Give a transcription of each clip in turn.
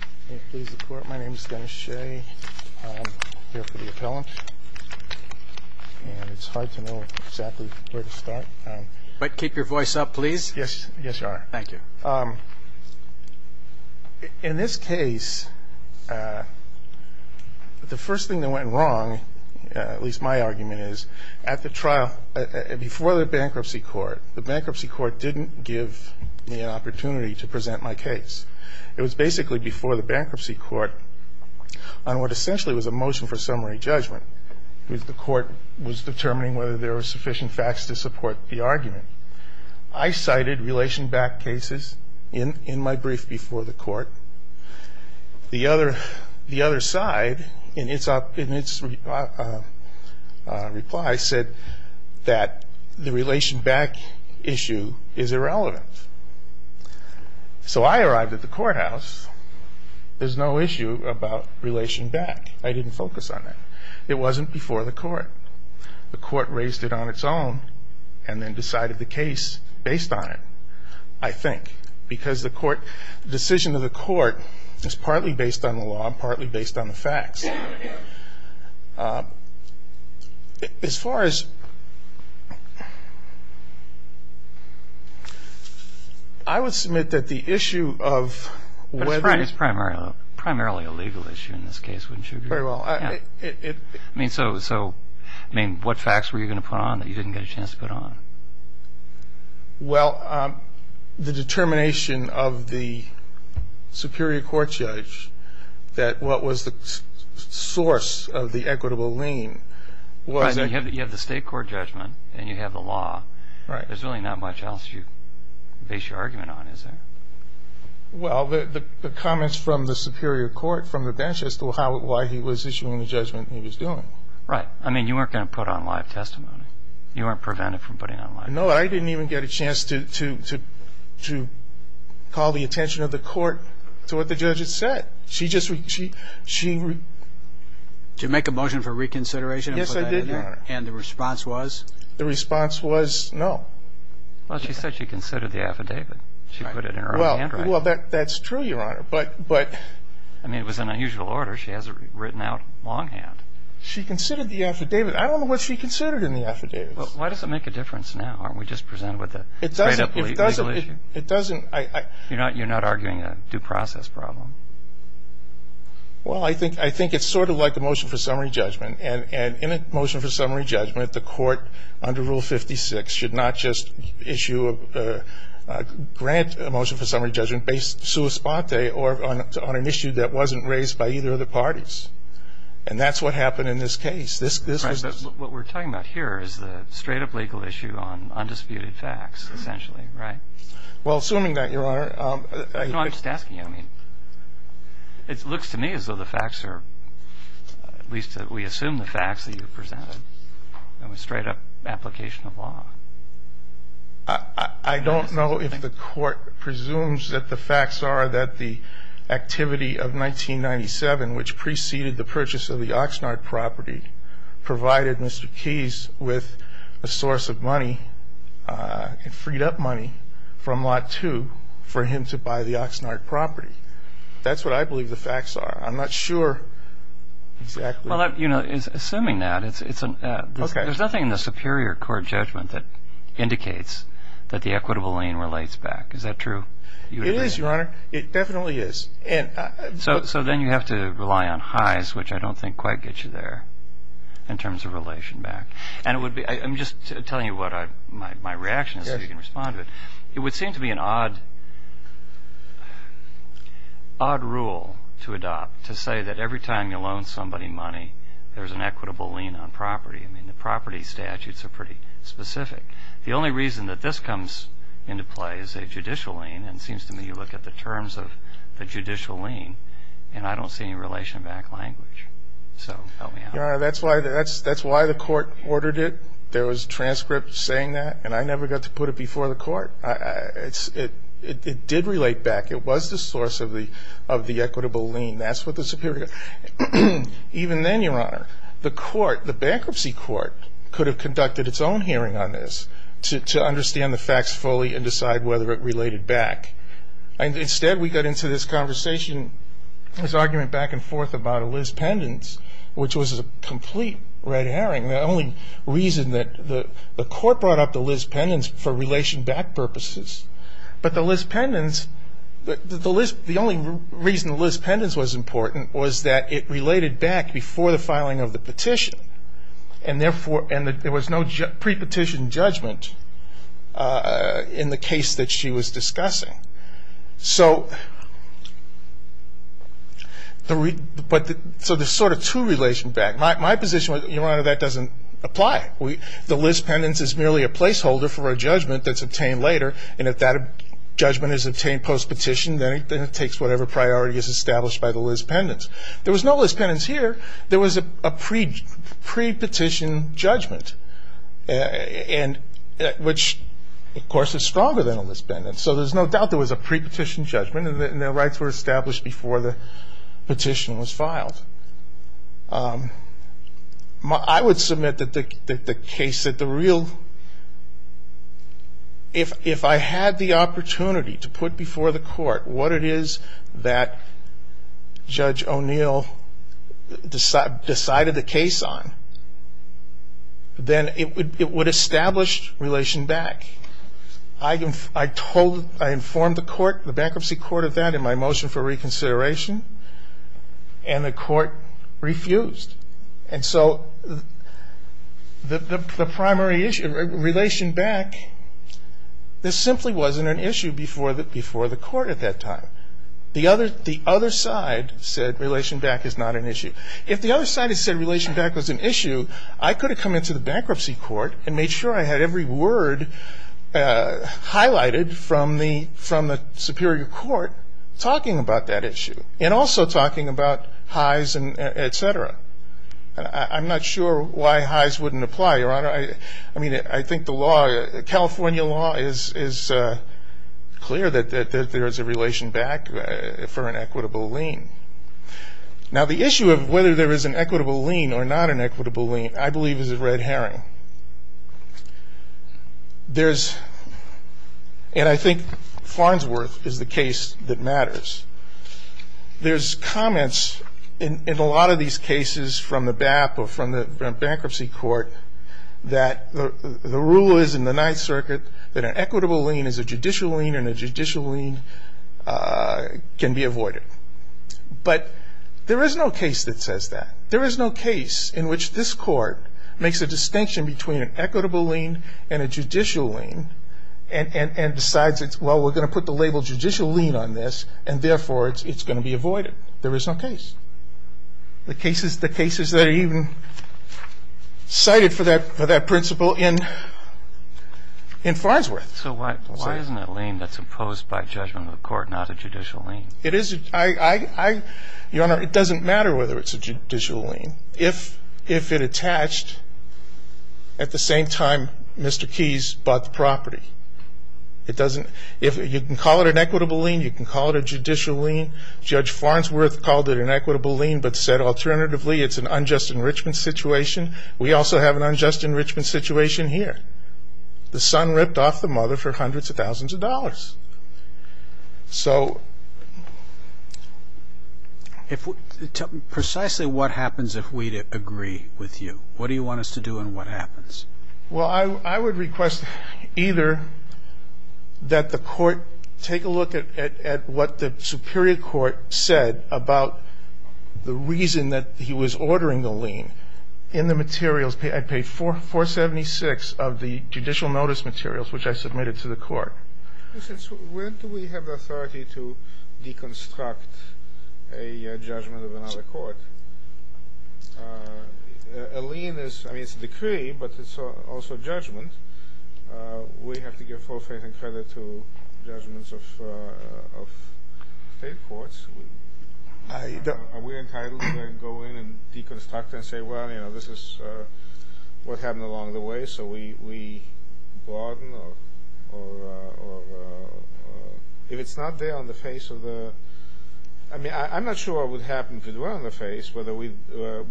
In this case, the first thing that went wrong, at least my argument is, at the trial, before the bankruptcy court, the bankruptcy court didn't give me an opportunity to present my case. It was basically before the bankruptcy court on what essentially was a motion for summary judgment. The court was determining whether there were sufficient facts to support the argument. I cited relation back cases in my brief before the court. The other side, in its reply, said that the relation back issue is irrelevant. So I arrived at the courthouse, there's no issue about relation back, I didn't focus on that. It wasn't before the court. The court raised it on its own and then decided the case based on it, I think. Because the decision of the court is partly based on the law and partly based on the facts. As far as, I would submit that the issue of whether It's primarily a legal issue in this case, wouldn't you agree? Very well. I mean, so what facts were you going to put on that you didn't get a chance to put on? Well, the determination of the superior court judge that what was the source of the equitable lien was You have the state court judgment and you have the law. There's really not much else you base your argument on, is there? Well, the comments from the superior court from the bench as to why he was issuing the judgment he was doing. Right. I mean, you weren't going to put on live testimony. You weren't prevented from putting on live testimony. No, I didn't even get a chance to call the attention of the court to what the judge had said. She just Did you make a motion for reconsideration? Yes, I did, Your Honor. And the response was? The response was no. Well, she said she considered the affidavit. She put it in her own handwriting. Well, that's true, Your Honor, but I mean, it was an unusual order. She has it written out longhand. She considered the affidavit. I don't know what she considered in the affidavit. Well, why does it make a difference now? Aren't we just presented with a straight-up legal issue? It doesn't. It doesn't. You're not arguing a due process problem. Well, I think it's sort of like a motion for summary judgment. And in a motion for summary judgment, the court under Rule 56 should not just issue a grant motion for summary judgment based sua spate or on an issue that wasn't raised by either of the parties. And that's what happened in this case. Right. But what we're talking about here is the straight-up legal issue on undisputed facts, essentially, right? Well, assuming that, Your Honor. No, I'm just asking. I mean, it looks to me as though the facts are, at least we assume the facts that you've presented, a straight-up application of law. I don't know if the court presumes that the facts are that the activity of 1997, which preceded the purchase of the Oxnard property, provided Mr. Keyes with a source of money and freed up money from Lot 2 for him to buy the Oxnard property. That's what I believe the facts are. I'm not sure exactly. Well, you know, assuming that, there's nothing in the superior court judgment that indicates that the equitable lien relates back. Is that true? It is, Your Honor. It definitely is. So then you have to rely on highs, which I don't think quite get you there, in terms of relation back. And I'm just telling you what my reaction is so you can respond to it. It would seem to be an odd rule to adopt to say that every time you loan somebody money, there's an equitable lien on property. I mean, the property statutes are pretty specific. The only reason that this comes into play is a judicial lien, and it seems to me when you look at the terms of the judicial lien, and I don't see any relation back language. So help me out. Your Honor, that's why the court ordered it. There was a transcript saying that, and I never got to put it before the court. It did relate back. It was the source of the equitable lien. That's what the superior court. Even then, Your Honor, the court, the bankruptcy court, could have conducted its own hearing on this to understand the facts fully and decide whether it related back. Instead, we got into this conversation, this argument back and forth about a Liz Pendens, which was a complete red herring, the only reason that the court brought up the Liz Pendens for relation back purposes. But the Liz Pendens, the only reason the Liz Pendens was important was that it related back before the filing of the petition, and there was no pre-petition judgment in the case that she was discussing. So there's sort of two relations back. My position was, Your Honor, that doesn't apply. The Liz Pendens is merely a placeholder for a judgment that's obtained later, and if that judgment is obtained post-petition, then it takes whatever priority is established by the Liz Pendens. There was no Liz Pendens here. There was a pre-petition judgment, which, of course, is stronger than a Liz Pendens. So there's no doubt there was a pre-petition judgment, and their rights were established before the petition was filed. I would submit that the case that the real – if I had the opportunity to put before the court what it is that Judge O'Neill – decided the case on, then it would establish relation back. I told – I informed the court, the bankruptcy court of that, in my motion for reconsideration, and the court refused. And so the primary issue, relation back, this simply wasn't an issue before the court at that time. The other side said relation back is not an issue. If the other side had said relation back was an issue, I could have come into the bankruptcy court and made sure I had every word highlighted from the superior court talking about that issue and also talking about highs and et cetera. I'm not sure why highs wouldn't apply, Your Honor. I mean, I think the law, California law, is clear that there is a relation back for an equitable lien. Now, the issue of whether there is an equitable lien or not an equitable lien, I believe, is a red herring. There's – and I think Farnsworth is the case that matters. There's comments in a lot of these cases from the BAP or from the bankruptcy court that the rule is in the Ninth Circuit that an equitable lien is a judicial lien and a judicial lien can be avoided. But there is no case that says that. There is no case in which this court makes a distinction between an equitable lien and a judicial lien and decides, well, we're going to put the label judicial lien on this and, therefore, it's going to be avoided. There is no case. The cases that are even cited for that principle in Farnsworth. So why isn't that lien that's imposed by judgment of the court not a judicial lien? It is a – I – Your Honor, it doesn't matter whether it's a judicial lien. If it attached at the same time Mr. Keyes bought the property, it doesn't – you can call it an equitable lien, you can call it a judicial lien. Judge Farnsworth called it an equitable lien but said, alternatively, it's an unjust enrichment situation. We also have an unjust enrichment situation here. The son ripped off the mother for hundreds of thousands of dollars. So – Precisely what happens if we agree with you? What do you want us to do and what happens? Well, I would request either that the court take a look at what the superior court said about the reason that he was ordering the lien in the materials. I paid 476 of the judicial notice materials which I submitted to the court. When do we have the authority to deconstruct a judgment of another court? A lien is – I mean, it's a decree but it's also a judgment. We have to give full faith and credit to judgments of state courts. Are we entitled to go in and deconstruct and say, well, you know, this is what happened along the way so we broaden or if it's not there on the face of the – I mean, I'm not sure what would happen if it were on the face, whether we'd allow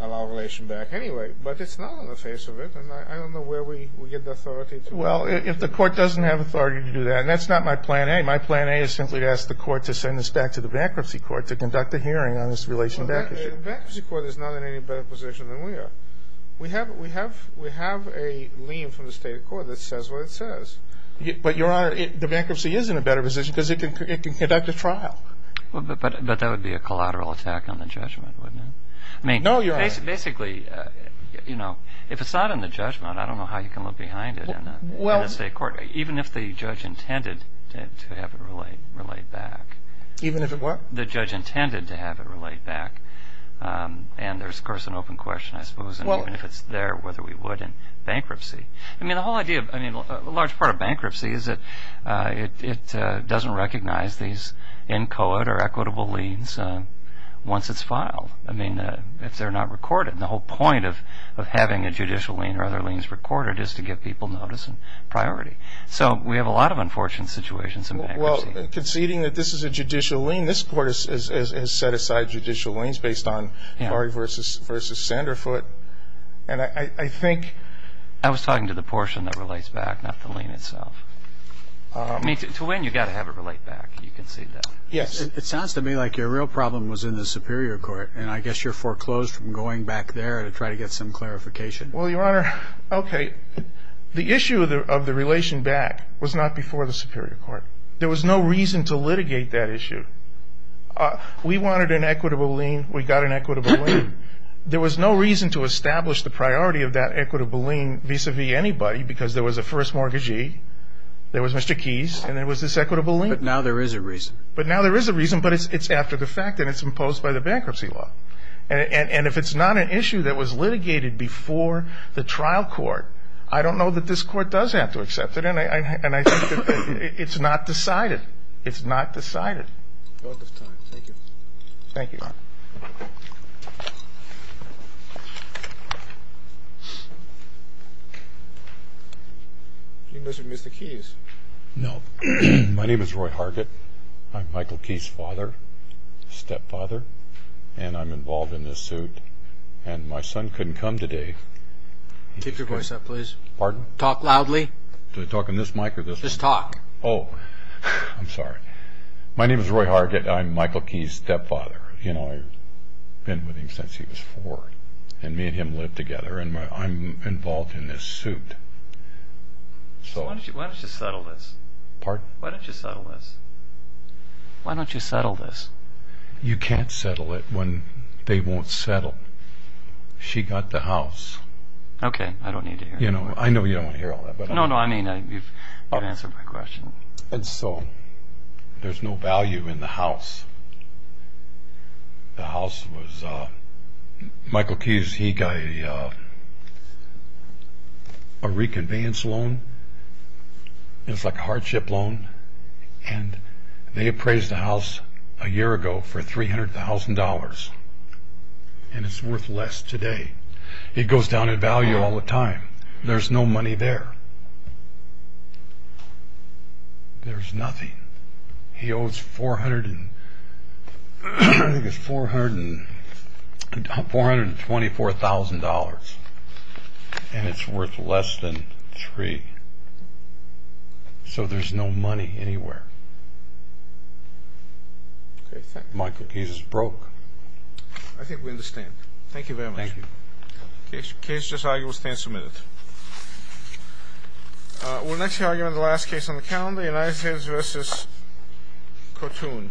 a relation back anyway. But it's not on the face of it and I don't know where we get the authority to. Well, if the court doesn't have authority to do that, and that's not my plan A. My plan A is simply to ask the court to send this back to the bankruptcy court to conduct a hearing on this relation back issue. Well, the bankruptcy court is not in any better position than we are. We have a lien from the state court that says what it says. But, Your Honor, the bankruptcy is in a better position because it can conduct a trial. But that would be a collateral attack on the judgment, wouldn't it? No, Your Honor. I mean, basically, you know, if it's not in the judgment, I don't know how you can look behind it in a state court, even if the judge intended to have it relayed back. Even if it were? The judge intended to have it relayed back. And there's, of course, an open question, I suppose, even if it's there whether we would in bankruptcy. I mean, the whole idea, I mean, a large part of bankruptcy is that it doesn't recognize these in code or equitable liens once it's filed, I mean, if they're not recorded. And the whole point of having a judicial lien or other liens recorded is to get people notice and priority. So we have a lot of unfortunate situations in bankruptcy. Well, conceding that this is a judicial lien, this court has set aside judicial liens based on Laurie v. Sanderfoot. I was talking to the portion that relates back, not the lien itself. I mean, to when you've got to have it relayed back, you concede that. Yes. It sounds to me like your real problem was in the superior court, and I guess you're foreclosed from going back there to try to get some clarification. Well, Your Honor, okay. The issue of the relation back was not before the superior court. There was no reason to litigate that issue. We wanted an equitable lien. We got an equitable lien. There was no reason to establish the priority of that equitable lien vis-à-vis anybody because there was a first mortgagee, there was Mr. Keys, and there was this equitable lien. But now there is a reason. But now there is a reason, but it's after the fact, and it's imposed by the bankruptcy law. And if it's not an issue that was litigated before the trial court, I don't know that this court does have to accept it, and I think it's not decided. It's not decided. Court is time. Thank you. Thank you. Thank you. You must have missed the keys. No. My name is Roy Hargett. I'm Michael Key's father, stepfather, and I'm involved in this suit. And my son couldn't come today. Keep your voice up, please. Pardon? Talk loudly. Do I talk in this mic or this one? Just talk. Oh, I'm sorry. My name is Roy Hargett. I'm Michael Key's stepfather. You know, I've been with him since he was four, and me and him live together, and I'm involved in this suit. Why don't you settle this? Pardon? Why don't you settle this? Why don't you settle this? You can't settle it when they won't settle. She got the house. Okay. I don't need to hear it. I know you don't want to hear all that. No, no, I mean you've answered my question. There's no value in the house. The house was Michael Key's. He got a reconveyance loan. It was like a hardship loan, and they appraised the house a year ago for $300,000, and it's worth less today. It goes down in value all the time. There's no money there. There's nothing. He owes $424,000, and it's worth less than three. So there's no money anywhere. Michael Key's is broke. I think we understand. Thank you very much. Thank you. Case just argued. We'll stand submitted. We'll next hear argument of the last case on the calendar, United States v. Cotoun. Thank you.